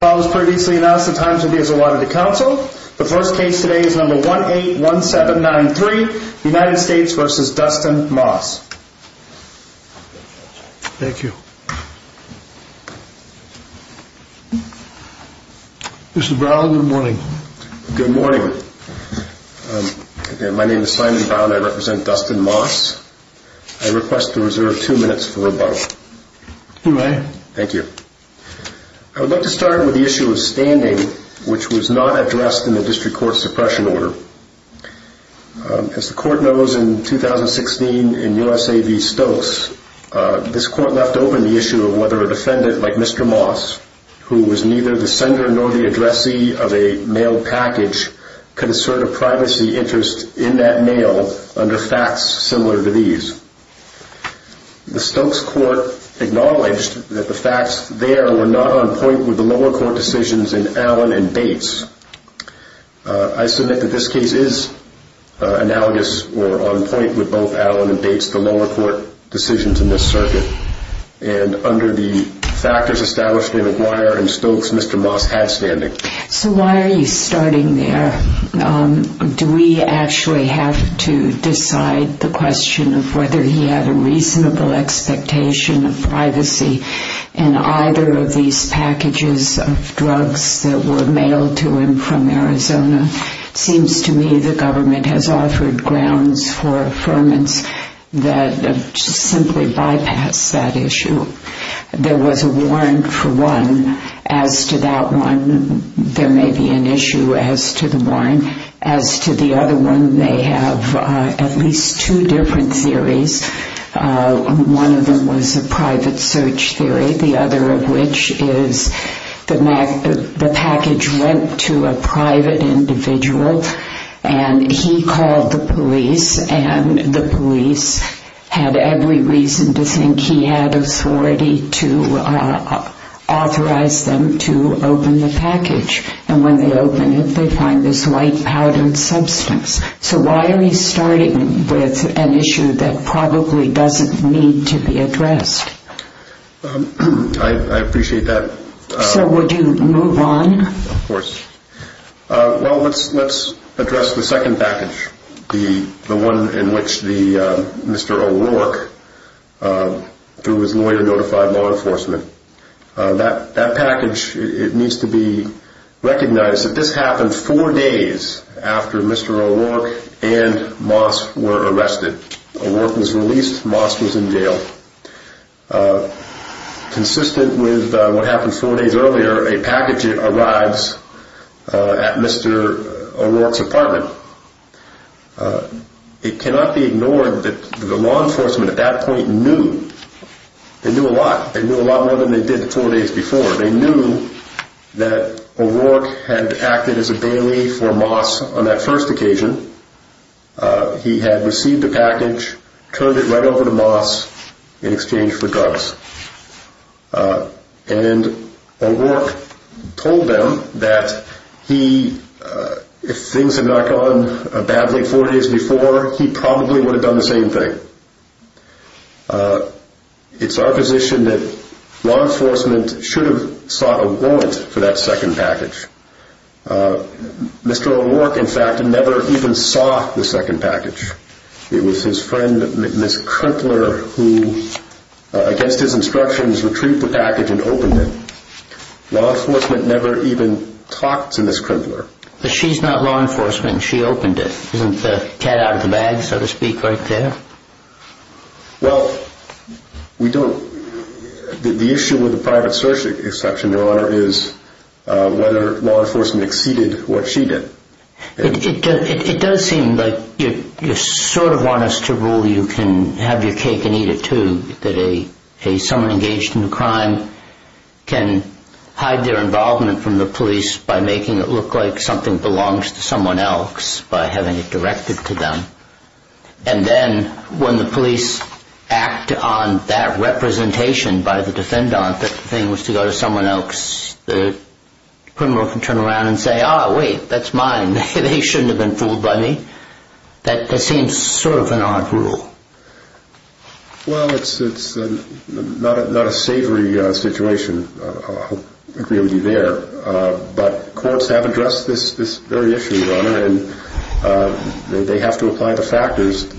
Thank you. Mr. Brown, good morning. Good morning. My name is Simon Brown. I represent Dustin Moss. I request to reserve two minutes for rebuttal. You may. Thank you. I would like to start with the issue of standing, which was not addressed in the district court suppression order. As the court knows, in 2016, in U.S.A. v. Stokes, this court left open the issue of whether a defendant like Mr. Moss, who was neither the sender nor the addressee of a mail package, could assert a privacy interest in that mail under facts similar to these. The Stokes court acknowledged that the facts there were not on point with the lower court decisions in Allen v. Bates. I submit that this case is analogous or on point with both Allen v. Bates, the lower court decisions in this circuit, and under the factors established in McGuire v. Stokes, Mr. Moss had standing. So why are you starting there? Do we actually have to decide the question of whether he had a reasonable expectation of privacy in either of these packages of drugs that were mailed to him from Arizona? It seems to me the government has offered grounds for affirmance that simply bypass that issue. There was a warrant for one. As to that one, there may be an issue as to the warrant. As to the other one, they have at least two different theories. One of them was a private search theory. The other of which is the package went to a private individual, and he called the police, and the police had every reason to think he had authority to authorize them to open the package. And when they open it, they find this light powdered substance. So why are we starting with an issue that probably doesn't need to be addressed? I appreciate that. So would you move on? Of course. Well, let's address the second package, the one in which Mr. O'Rourke, through his lawyer, notified law enforcement. That package, it needs to be recognized that this happened four days after Mr. O'Rourke and Moss were arrested. O'Rourke was released, Moss was in jail. Consistent with what happened four days earlier, a package arrives at Mr. O'Rourke's apartment. It cannot be ignored that the law enforcement at that point knew. They knew a lot. They knew a lot more than they did four days before. They knew that O'Rourke had acted as a bailiff for Moss on that first occasion. He had received the package, turned it right over to Moss in exchange for drugs. And O'Rourke told them that he, if things had not gone badly four days before, he probably would have done the same thing. It's our position that law enforcement should have sought a warrant for that second package. Mr. O'Rourke, in fact, never even saw the second package. It was his friend, Ms. Krimpler, who, against his instructions, retrieved the package and opened it. Law enforcement never even talked to Ms. Krimpler. But she's not law enforcement and she opened it. Isn't the cat out of the bag, so to speak, right there? Well, we don't, the issue with the private search exception, Your Honor, is whether law enforcement exceeded what she did. It does seem like you sort of want us to rule you can have your cake and eat it, too, that a someone engaged in a crime can hide their involvement from the police by making it look like something belongs to someone else by having it directed to them. And then when the police act on that representation by the defendant, that the thing was to go to someone else, the criminal can turn around and say, ah, wait, that's mine. They shouldn't have been fooled by me. That seems sort of an odd rule. Well, it's not a savory situation. I agree with you there. But courts have addressed this very issue, Your Honor, and they have to apply the factors.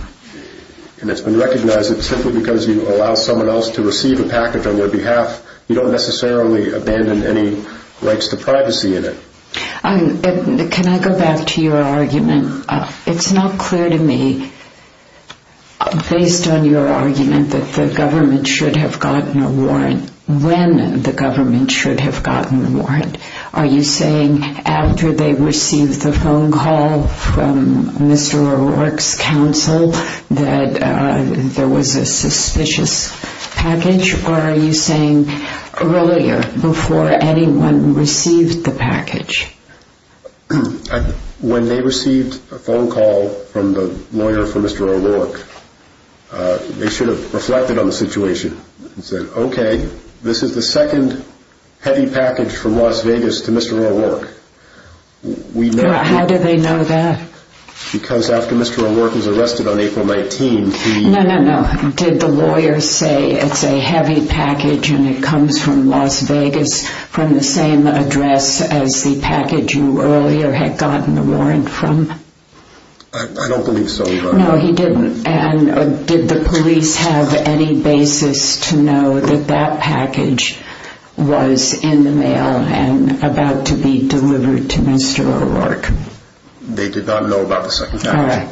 And it's been recognized that simply because you allow someone else to receive a package on their behalf, you don't necessarily abandon any rights to privacy in it. Can I go back to your argument? It's not clear to me, based on your argument that the government should have gotten a warrant, when the government should have gotten a warrant. Are you saying after they received the phone call from Mr. O'Rourke's counsel that there was a suspicious package? Or are you saying earlier, before anyone received the package? When they received a phone call from the lawyer for Mr. O'Rourke, they should have reflected on the situation and said, okay, this is the second heavy package from Las Vegas to Mr. O'Rourke. How do they know that? Because after Mr. O'Rourke was arrested on April 19th, he... No, no, no. Did the lawyer say it's a heavy package and it comes from Las Vegas from the same address as the package you earlier had gotten the warrant from? I don't believe the police have any basis to know that that package was in the mail and about to be delivered to Mr. O'Rourke. They did not know about the second package.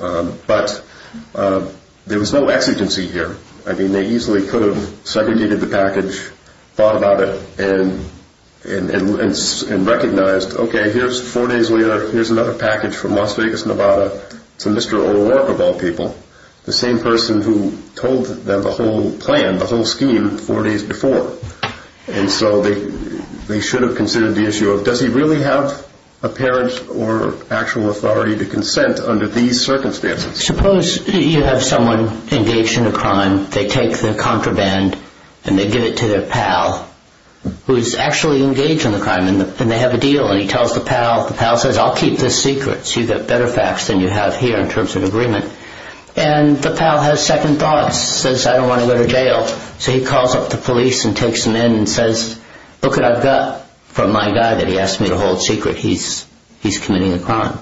All right. But there was no exigency here. I mean, they easily could have segregated the package, thought about it and recognized, okay, here's four days later, here's another package from Las Vegas, Nevada to Mr. O'Rourke of all people, the same person who told them the whole plan, the whole scheme four days before. And so they should have considered the issue of does he really have a parent or actual authority to consent under these circumstances? Suppose you have someone engaged in a crime, they take the contraband and they give it to their pal who's actually engaged in the crime and they have a deal and he tells the pal, the pal says, I'll keep this secret so you get better facts than you have here in terms of agreement. And the pal has second thoughts, says, I don't want to go to jail. So he calls up the police and takes them in and says, look what I've got from my guy that he asked me to hold secret. He's committing a crime.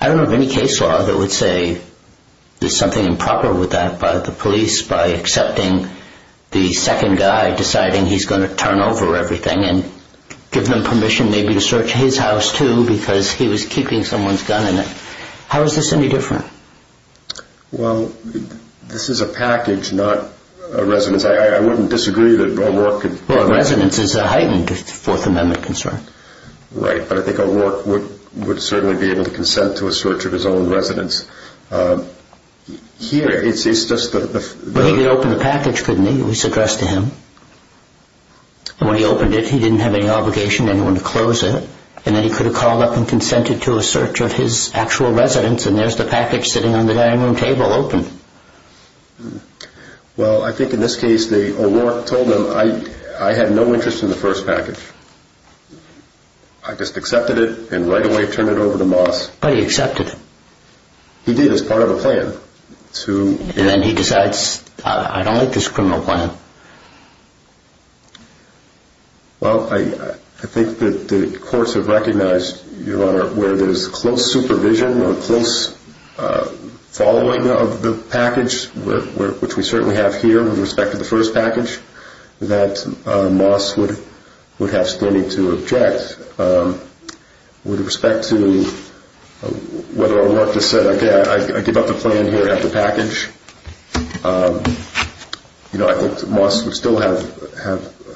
I don't know of any case law that would say there's something improper with that by the police, by accepting the second guy, deciding he's going to turn over everything and give them permission maybe to search his house too because he was keeping someone's gun in it. How is this any different? Well, this is a package, not a residence. I wouldn't disagree that O'Rourke could... Well, a residence is a heightened Fourth Amendment concern. Right, but I think O'Rourke would certainly be able to consent to a search of his own residence. Here, it's just the... He could open the package, couldn't he? It was addressed to him. And when he opened it, he didn't have any obligation to anyone to call up and consent to a search of his actual residence and there's the package sitting on the dining room table open. Well, I think in this case, O'Rourke told him I had no interest in the first package. I just accepted it and right away turned it over to Moss. But he accepted it. He did as part of a plan to... And then he decides, I don't like this criminal plan. Well, I think that the courts have recognized, Your Honor, where there's close supervision or close following of the package, which we certainly have here with respect to the first package, that Moss would have standing to object with respect to whether or not to call in here and have the package. I think Moss would still have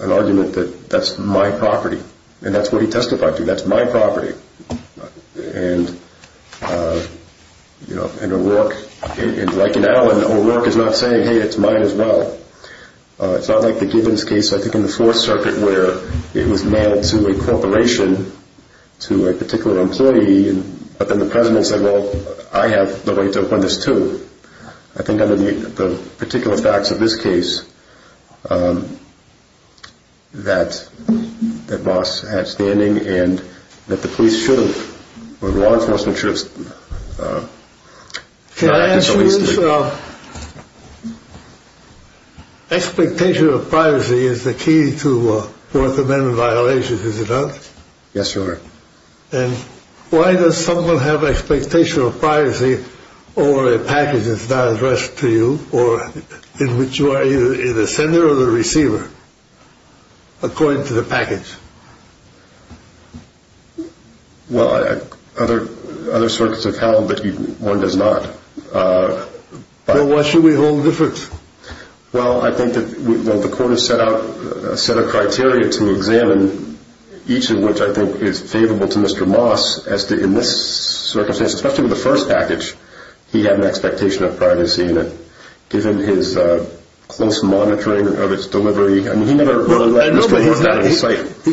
an argument that that's my property. And that's what he testified to. That's my property. And O'Rourke, like in Adeline, O'Rourke is not saying, hey, it's mine as well. It's not like the Gibbons case I think in the Fourth Circuit where it was mailed to a corporation, to a particular employee, but then the president said, well, I have the right to open this too. I think under the particular facts of this case, that Moss had standing and that the police should have, or law enforcement should have... Can I answer this? Expectation of privacy is the only thing that I can say. Why does someone have an expectation of privacy over a package that's not addressed to you or in which you are either the sender or the receiver, according to the package? Well, other circuits have held that one does not. Well, why should we hold different? Well, I think that the court has set out a set of criteria to examine, each of which I think is favorable to Mr. Moss as to, in this circumstance, especially with the first package, he had an expectation of privacy and given his close monitoring of its delivery, I mean, he never really let Mr. Moss out of his sight. He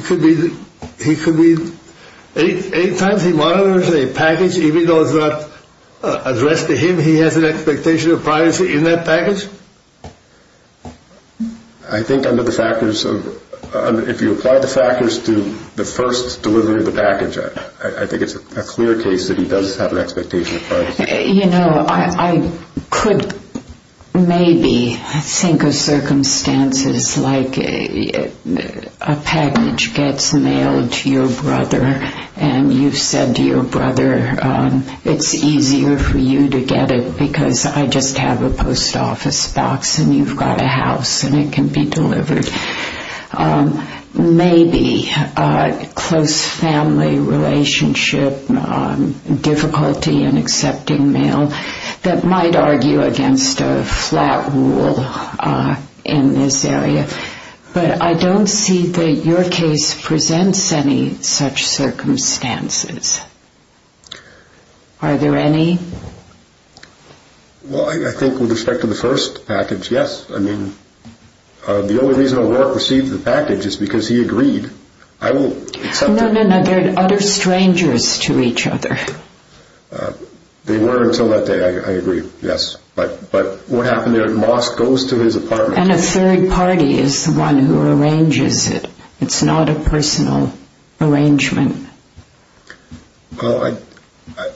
could be, any time he monitors a package, even though it's not addressed to him, he has an expectation of privacy in that package? I think under the factors of, if you apply the factors to the first delivery of the package, I think it's a clear case that he does have an expectation of privacy. You know, I could maybe think of circumstances like a package gets mailed to your brother and you've said to your brother, it's easier for you to get it because I just have a post office box and you've got a house and it can be delivered. Maybe a close family relationship, difficulty in accepting mail, that might argue against a flat rule in this area, but I don't see that your case presents any such circumstances. Are there any? Well, I think with respect to the first package, yes. I mean, the only reason O'Rourke received the package is because he agreed. I will... No, no, no, they're utter strangers to each other. They were until that day, I agree, yes. But what happened there, Moss goes to his apartment... And a third party is the one who arranges it. It's not a personal arrangement. Well,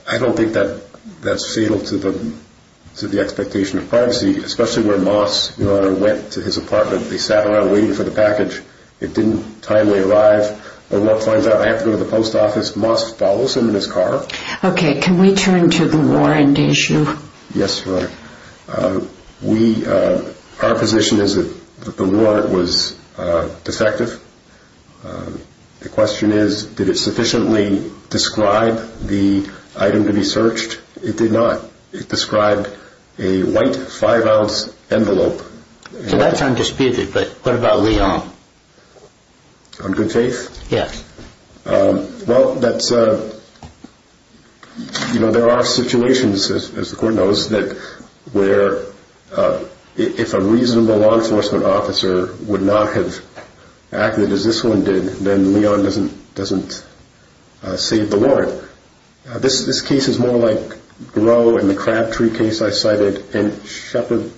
I don't think that's fatal to the expectation of privacy, especially where Moss, Your Honor, went to his apartment. They sat around waiting for the package. It didn't timely arrive. O'Rourke finds out, I have to go to the post office. Moss follows him in his car. Okay, can we turn to the warrant issue? Yes, Your Honor. Our position is that the warrant was sufficiently described the item to be searched. It did not. It described a white five ounce envelope. So that's undisputed, but what about Leon? On good faith? Yes. Well, that's... You know, there are situations, as the court knows, that where if a reasonable law enforcement officer would not have acted as this one did, then Leon doesn't save the warrant. This case is more like Gros and the Crabtree case I cited, and Shepard...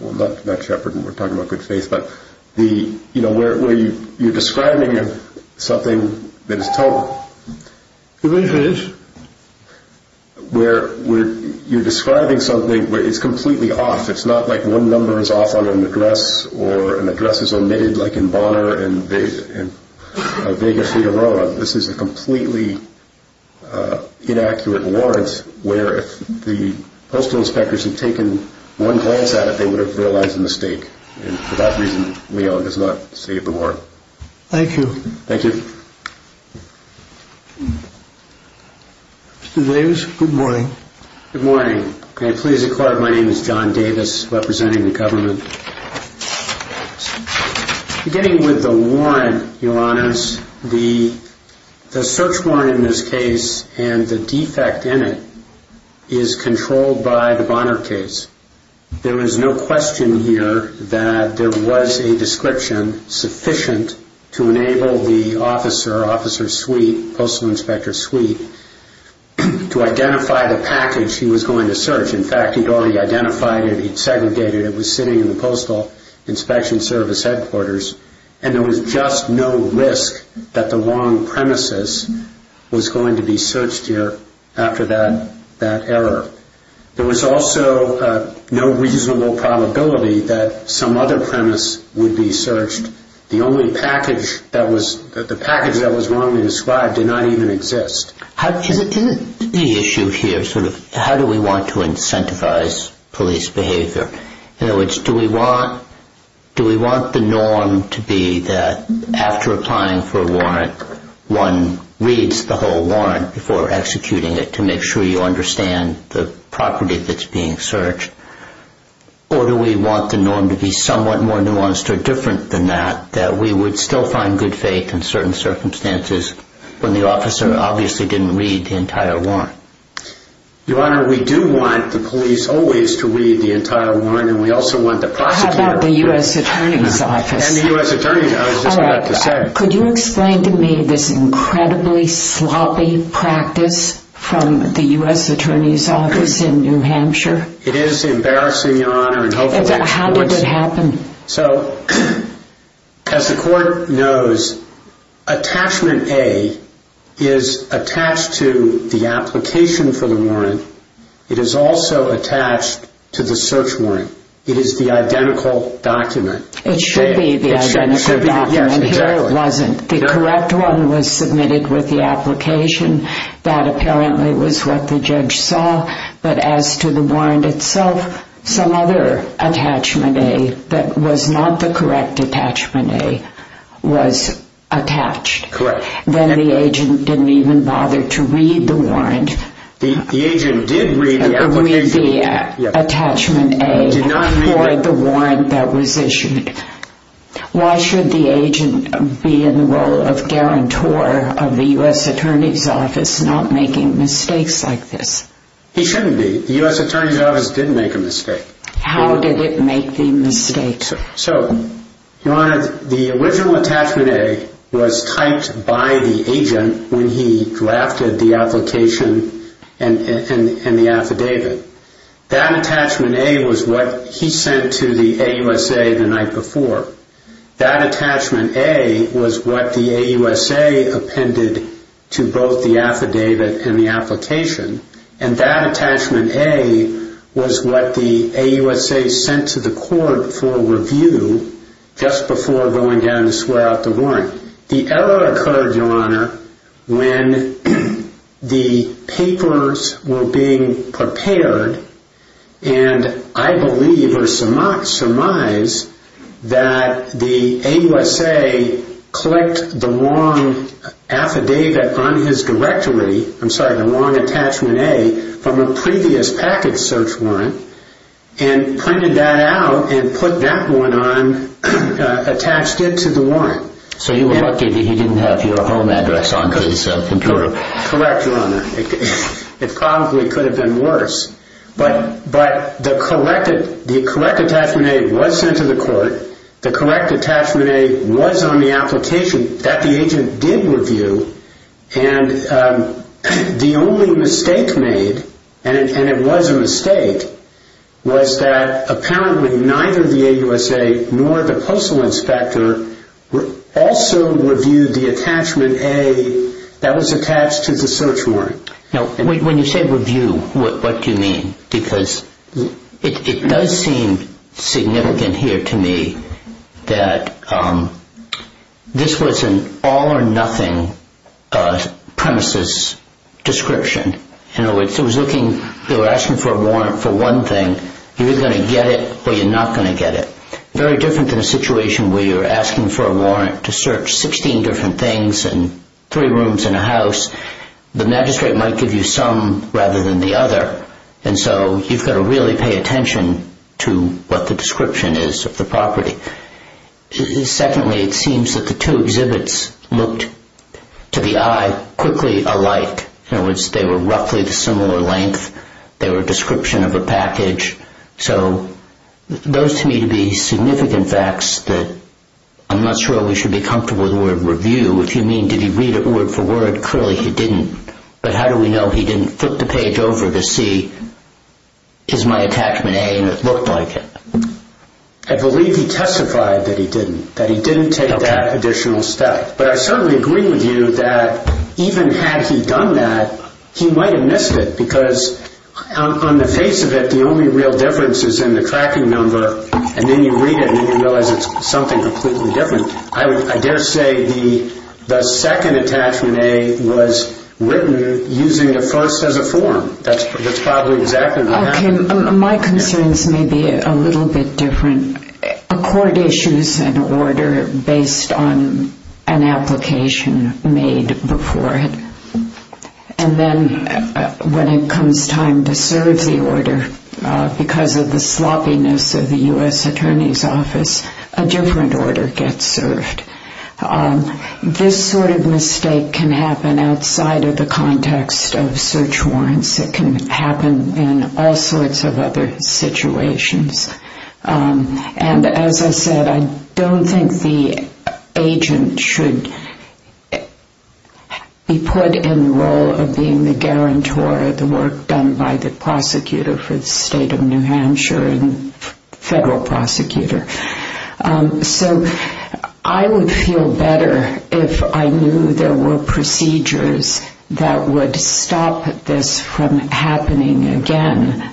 Well, not Shepard, we're talking about good faith, but where you're describing something that is total. Good faith. Where you're describing something where it's completely off. It's not like one number is off on an address, or an address is omitted, like in Bonner and Vega Frida Roma. This is a completely inaccurate warrant, where if the postal inspectors had taken one glance at it, they would have realized a mistake. And for that reason, Leon does not save the warrant. Thank you. Thank you. Mr. Davis, good morning. Good morning. May I please inquire, my name is John Davis, representing the government. Beginning with the warrant, Your Honors, the search warrant in this case, and the defect in it, is controlled by the Bonner case. There is no question here that there was a description sufficient to enable the officer, Officer Sweet, Postal Inspector Sweet, to identify the package he was going to search. In fact, he'd already identified it, he'd segregated it, it was sitting in the Postal Inspection Service headquarters, and there was just no risk that the wrong premises was going to be searched here after that error. There was also no reasonable probability that some other premise would be searched. The only package that was, the package that was wrongly described did not even exist. Is it the issue here, sort of, how do we want to incentivize police behavior? In other words, do we want the norm to be that after applying for a warrant, one reads the whole warrant before executing it to make sure you understand the property that's being searched? Or do we want the norm to be somewhat more nuanced or different than that, that we would still find good faith in certain circumstances when the officer obviously didn't read the entire warrant? Your Honor, we do want the police always to read the entire warrant, and we also want the prosecutor... How about the U.S. Attorney's Office? And the U.S. Attorney's, I was just about to say. Could you explain to me this incredibly sloppy practice from the U.S. Attorney's Office in New Hampshire? It is embarrassing Your Honor. How did it happen? So, as the Court knows, attachment A is attached to the application for the warrant. It is also attached to the search warrant. It is the identical document. It should be the identical document. Here it wasn't. The correct one was submitted with the application. That apparently was what the judge saw, but as to the warrant itself, some other attachment A that was not the correct attachment A was attached. Then the agent didn't even bother to read the warrant. The agent did read the application. Read the attachment A for the warrant that was issued. Why should the agent be in the role of guarantor of the U.S. Attorney's Office not making mistakes like this? He shouldn't be. The U.S. Attorney's Office did make a mistake. How did it make the mistake? So, Your Honor, the original attachment A was typed by the agent when he drafted the application and the affidavit. That attachment A was what he sent to the AUSA the night before. That attachment A was what the AUSA appended to both the affidavit and the application. That attachment A was what the AUSA sent to the court for review just before going down to swear out the warrant. The error occurred, Your Honor, when the papers were being prepared and I believe or surmise that the AUSA clicked the wrong affidavit on his directory, I'm sorry, the wrong attachment A from a previous package search warrant and printed that out and put that one on, attached it to the warrant. So you were lucky he didn't have your home address on his computer. Correct, Your Honor. It probably could have been worse. But the correct attachment A was sent to the court. The correct attachment A was on the application that the agent did review and the only mistake made, and it was a mistake, was that apparently neither the AUSA nor the postal inspector also reviewed the attachment A that was attached to the search warrant. When you say review, what do you mean? Because it does seem significant here to me that this was an all or nothing premises description. They were asking for a warrant for one thing. You're either going to get it or you're not going to get it. Very different than a situation where you're asking for a warrant to search 16 different things and three rooms in a house. The magistrate might give you some rather than the other, and so you've got to really pay attention to what the description is of the property. Secondly, it seems that the two exhibits looked to the eye quickly alike. In other words, they were roughly the similar length. They were a description of a package. So those to me to be significant facts that I'm not sure we should be comfortable with the word review. If you mean did he read it word for word, clearly he didn't. But how do we know he didn't flip the page over to see, is my attachment A and it looked like it? I believe he testified that he didn't. That he didn't take that additional step. But I certainly agree with you that even had he done that, he might have missed it because on the face of it, the only real difference is in the tracking number, and then you read it and then you realize it's something completely different. I dare say the second attachment A was written using the first as a form. That's probably exactly what happened. My concerns may be a little bit different. A court issues an order based on an application made before it, and then when it comes time to serve the order, because of the sloppiness of the U.S. Attorney's Office, a different order gets served. This sort of mistake can happen outside of the context of search warrants. It can happen in all sorts of other situations. And as I said, I don't think the agent should be put in the role of being the guarantor of the work done by the prosecutor for the state of New Hampshire and federal prosecutor. So I would feel better if I knew there were procedures that would stop this from happening again.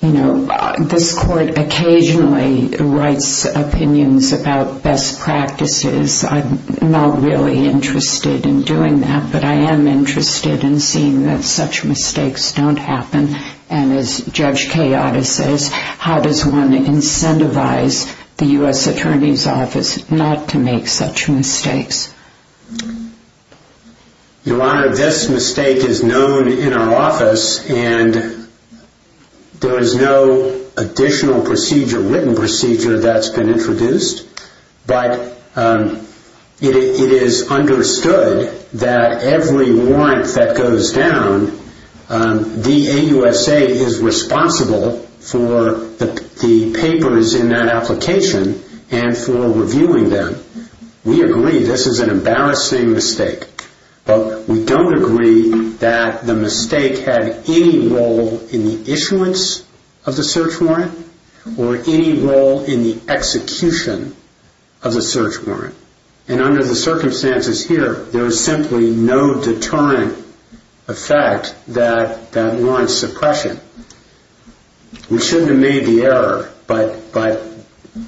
You know, this court occasionally writes opinions about best practices. I'm not really interested in doing that, but I am interested in seeing that such mistakes don't happen. And as Judge Kayada says, how does one incentivize the U.S. Attorney's Office not to make such mistakes? Your Honor, this mistake is known in our office, and there is no additional procedure, written procedure, that's been introduced. But it is understood that every warrant that goes down, the AUSA is responsible for the papers in that application and for reviewing them. We agree this is an embarrassing mistake, but we don't agree that the mistake had any role in the issuance of the search warrant or any role in the execution of the search warrant. And under the circumstances here, there is simply no deterrent effect that that warrant suppression. We shouldn't have made the error, but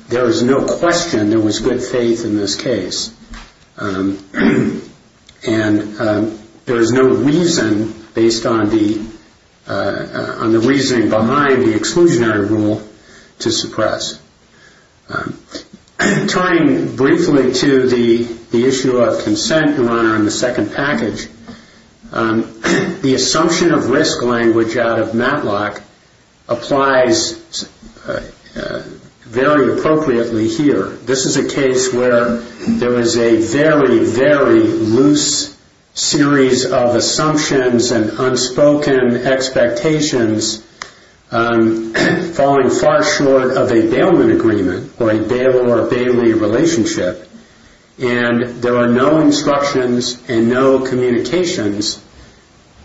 there is no question there was good faith in this case. And there is no reason, based on the reasoning behind the exclusionary rule, to suppress. Tying briefly to the issue of consent, Your Honor, in the second package, this is a case where there is a very, very loose series of assumptions and unspoken expectations, falling far short of a bailment agreement or a bail or bailee relationship. And there are no instructions and no communications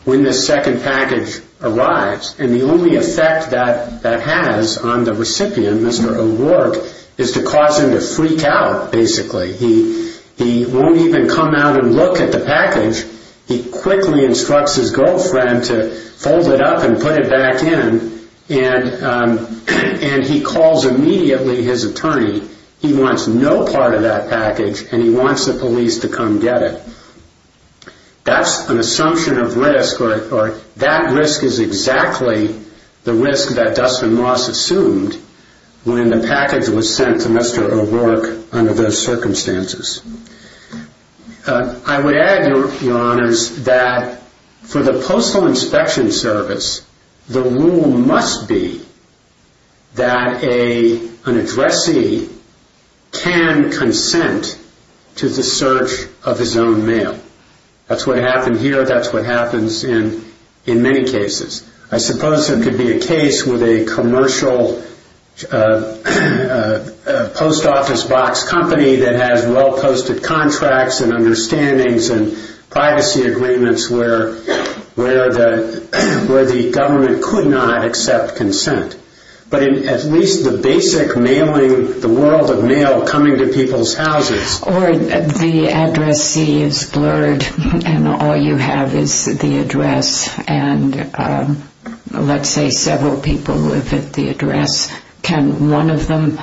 when this second package arrives. And the only effect that that has on the recipient, Mr. O'Rourke, is to cause him to freak out, basically. He won't even come out and look at the package. He quickly instructs his girlfriend to fold it up and put it back in. And he calls immediately his attorney. He wants no part of that package, and he wants the police to assumed when the package was sent to Mr. O'Rourke under those circumstances. I would add, Your Honors, that for the Postal Inspection Service, the rule must be that an addressee can consent to the search of his own mail. That's what happened here. That's what happens in many cases. I suppose there could be a case with a commercial post office box company that has well-posted contracts and understandings and privacy agreements where the government could not accept consent. But at least the basic mailing, the world of mail coming to people's houses. Or the addressee is blurred, and all you have is the address. And let's say several people live at the address. Can one of them,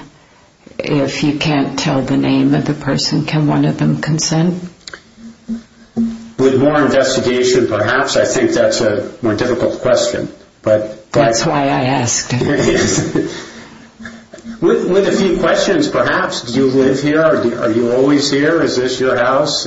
if you can't tell the name of the person, can one of them consent? With more investigation, perhaps. I think that's a more difficult question. That's why I asked. With a few questions, perhaps. Do you live here? Are you always here? Is this your house?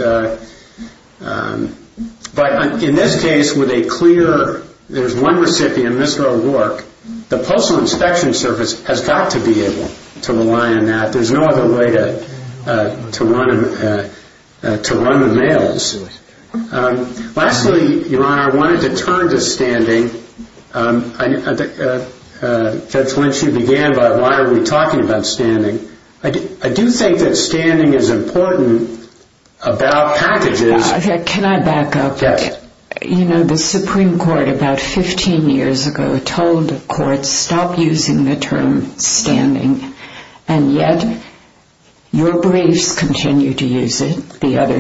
But in this case, with a clear, there's one recipient, Mr. O'Rourke, the Postal Inspection Service has got to be able to rely on that. There's no other way to run the mails. Lastly, Your Honor, I wanted to turn to standing. Judge Lynch, you began by why are we talking about standing? I do think that standing is important about packages. Can I back up? Yes. You know, the Supreme Court about 15 years ago told courts stop using the term standing. And yet, your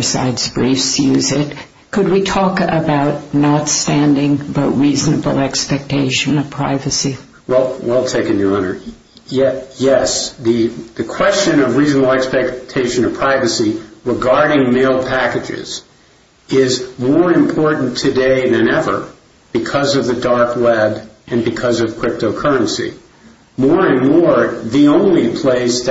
side's briefs use it. Could we talk about not standing but reasonable expectation of privacy? Well taken, Your Honor. Yes. The question of reasonable expectation of privacy regarding mail packages is more important today than ever because of the dark web and because of cryptocurrency. More and more, the UPS,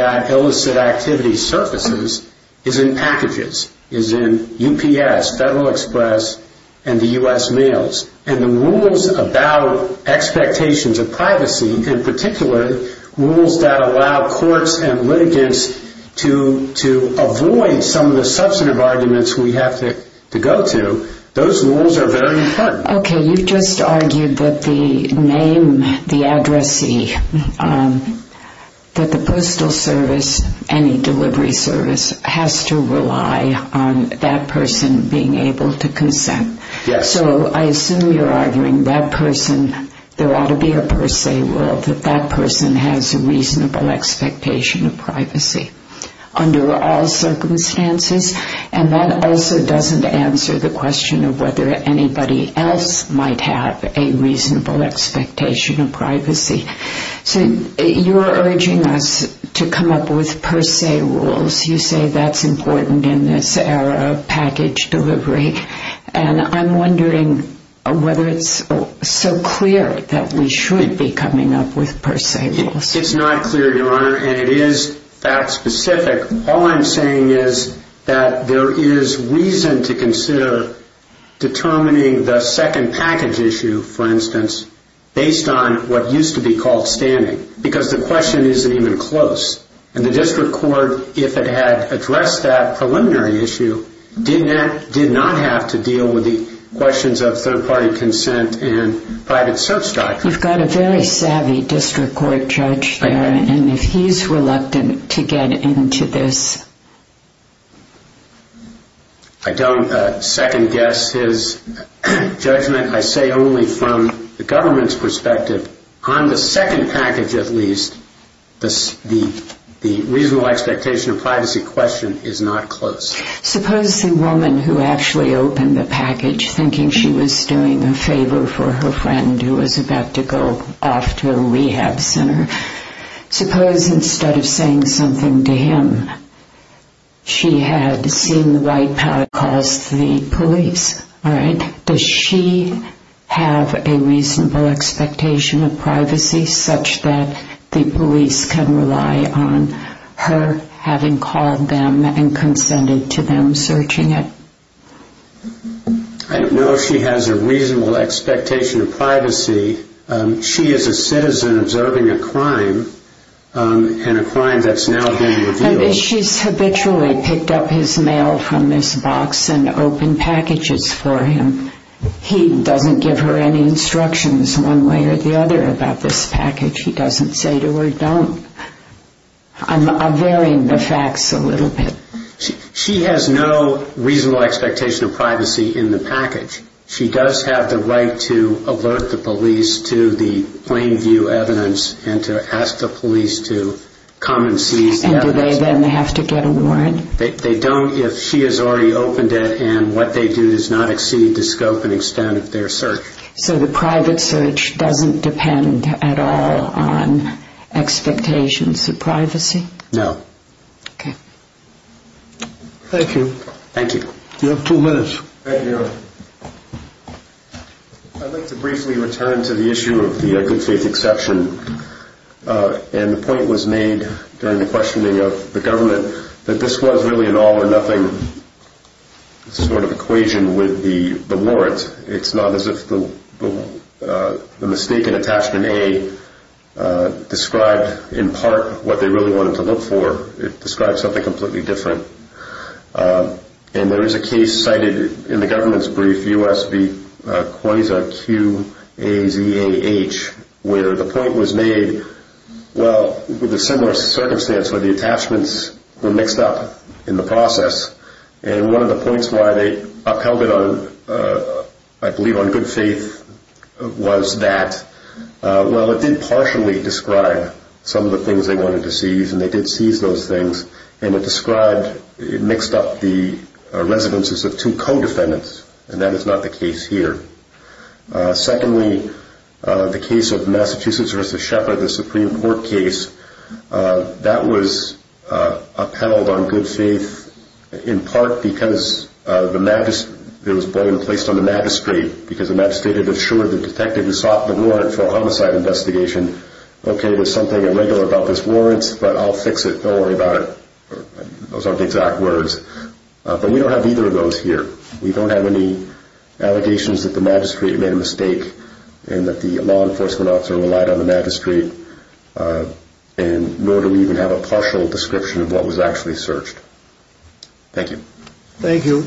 Federal Express, and the U.S. Mails. And the rules about expectations of privacy, in particular, rules that allow courts and litigants to avoid some of the substantive arguments we have to go to, those rules are very important. Okay. You've just argued that the name, the addressee, that the Postal Service, any delivery service, has to rely on that person being able to consent. Yes. So I assume you're arguing that person, there ought to be a per se rule that that person has a reasonable expectation of privacy under all circumstances. And that also doesn't answer the question of whether anybody else might have a reasonable expectation of privacy. So you're urging us to come up with per se rules. You say that's important in this era of package delivery. And I'm wondering whether it's so clear that we should be coming up with per se rules. It's not clear, Your Honor. And it is fact specific. All I'm saying is that there is reason to consider determining the second package issue, for instance, based on what used to be called standing. Because the preliminary issue did not have to deal with the questions of third party consent and private search doctrine. You've got a very savvy district court judge there. And if he's reluctant to get into this. I don't second guess his judgment. I say only from the government's perspective, on the second package at least, the reasonable expectation of privacy question is not close. Suppose a woman who actually opened the package thinking she was doing a favor for her friend who was about to go off to a rehab center, suppose instead of saying something to him, she had seen the white palette calls to the police. Does she have a reasonable expectation of privacy such that the police can rely on her having called them and consented to them searching it? I don't know if she has a reasonable expectation of privacy. She is a citizen observing a crime, and a crime that's now being revealed. She's habitually picked up his mail from this box and opened packages for him. He doesn't give her any instructions one way or the other about this package. He doesn't say to her, don't. I'm varying the facts a little bit. She has no reasonable expectation of privacy in the package. She does have the right to alert the police to the plain view evidence and to ask the police to come and seize the evidence. And do they then have to get a warrant? They don't if she has already opened it and what they do does not exceed the scope and extent of their search. So the private search doesn't depend at all on expectations of privacy? No. Okay. Thank you. You have two minutes. Thank you. I'd like to briefly return to the issue of the good faith exception. And the point was made during the questioning of the government that this was really an all or nothing sort of equation with the warrant. It's not as if the mistake in attachment A described in part what they really wanted to look for. It describes something completely different. And there is a case cited in the government's brief, U.S. v. Quasar, Q-A-Z-A-H, where the point was made, well, with a similar circumstance where the attachments were mixed up in the process. And one of the points why they upheld it on, I believe, on good faith was that, well, it did partially describe some of the things they wanted to seize, and they did seize those things. And it described, it mixed up the residences of two co-defendants, and that is not the case here. Secondly, the case of Massachusetts v. Shepard, the Supreme Court case, that was upheld on good faith in part because it was placed on the magistrate because the magistrate had assured the detective who sought the warrant for a homicide investigation, okay, there's something irregular about this warrant, but I'll fix it. Don't worry about it. Those aren't the exact words. But we don't have either of those here. We don't have any allegations that the magistrate made a mistake and that the law enforcement officer relied on the magistrate, nor do we even have a partial description of what was actually searched. Thank you. Thank you.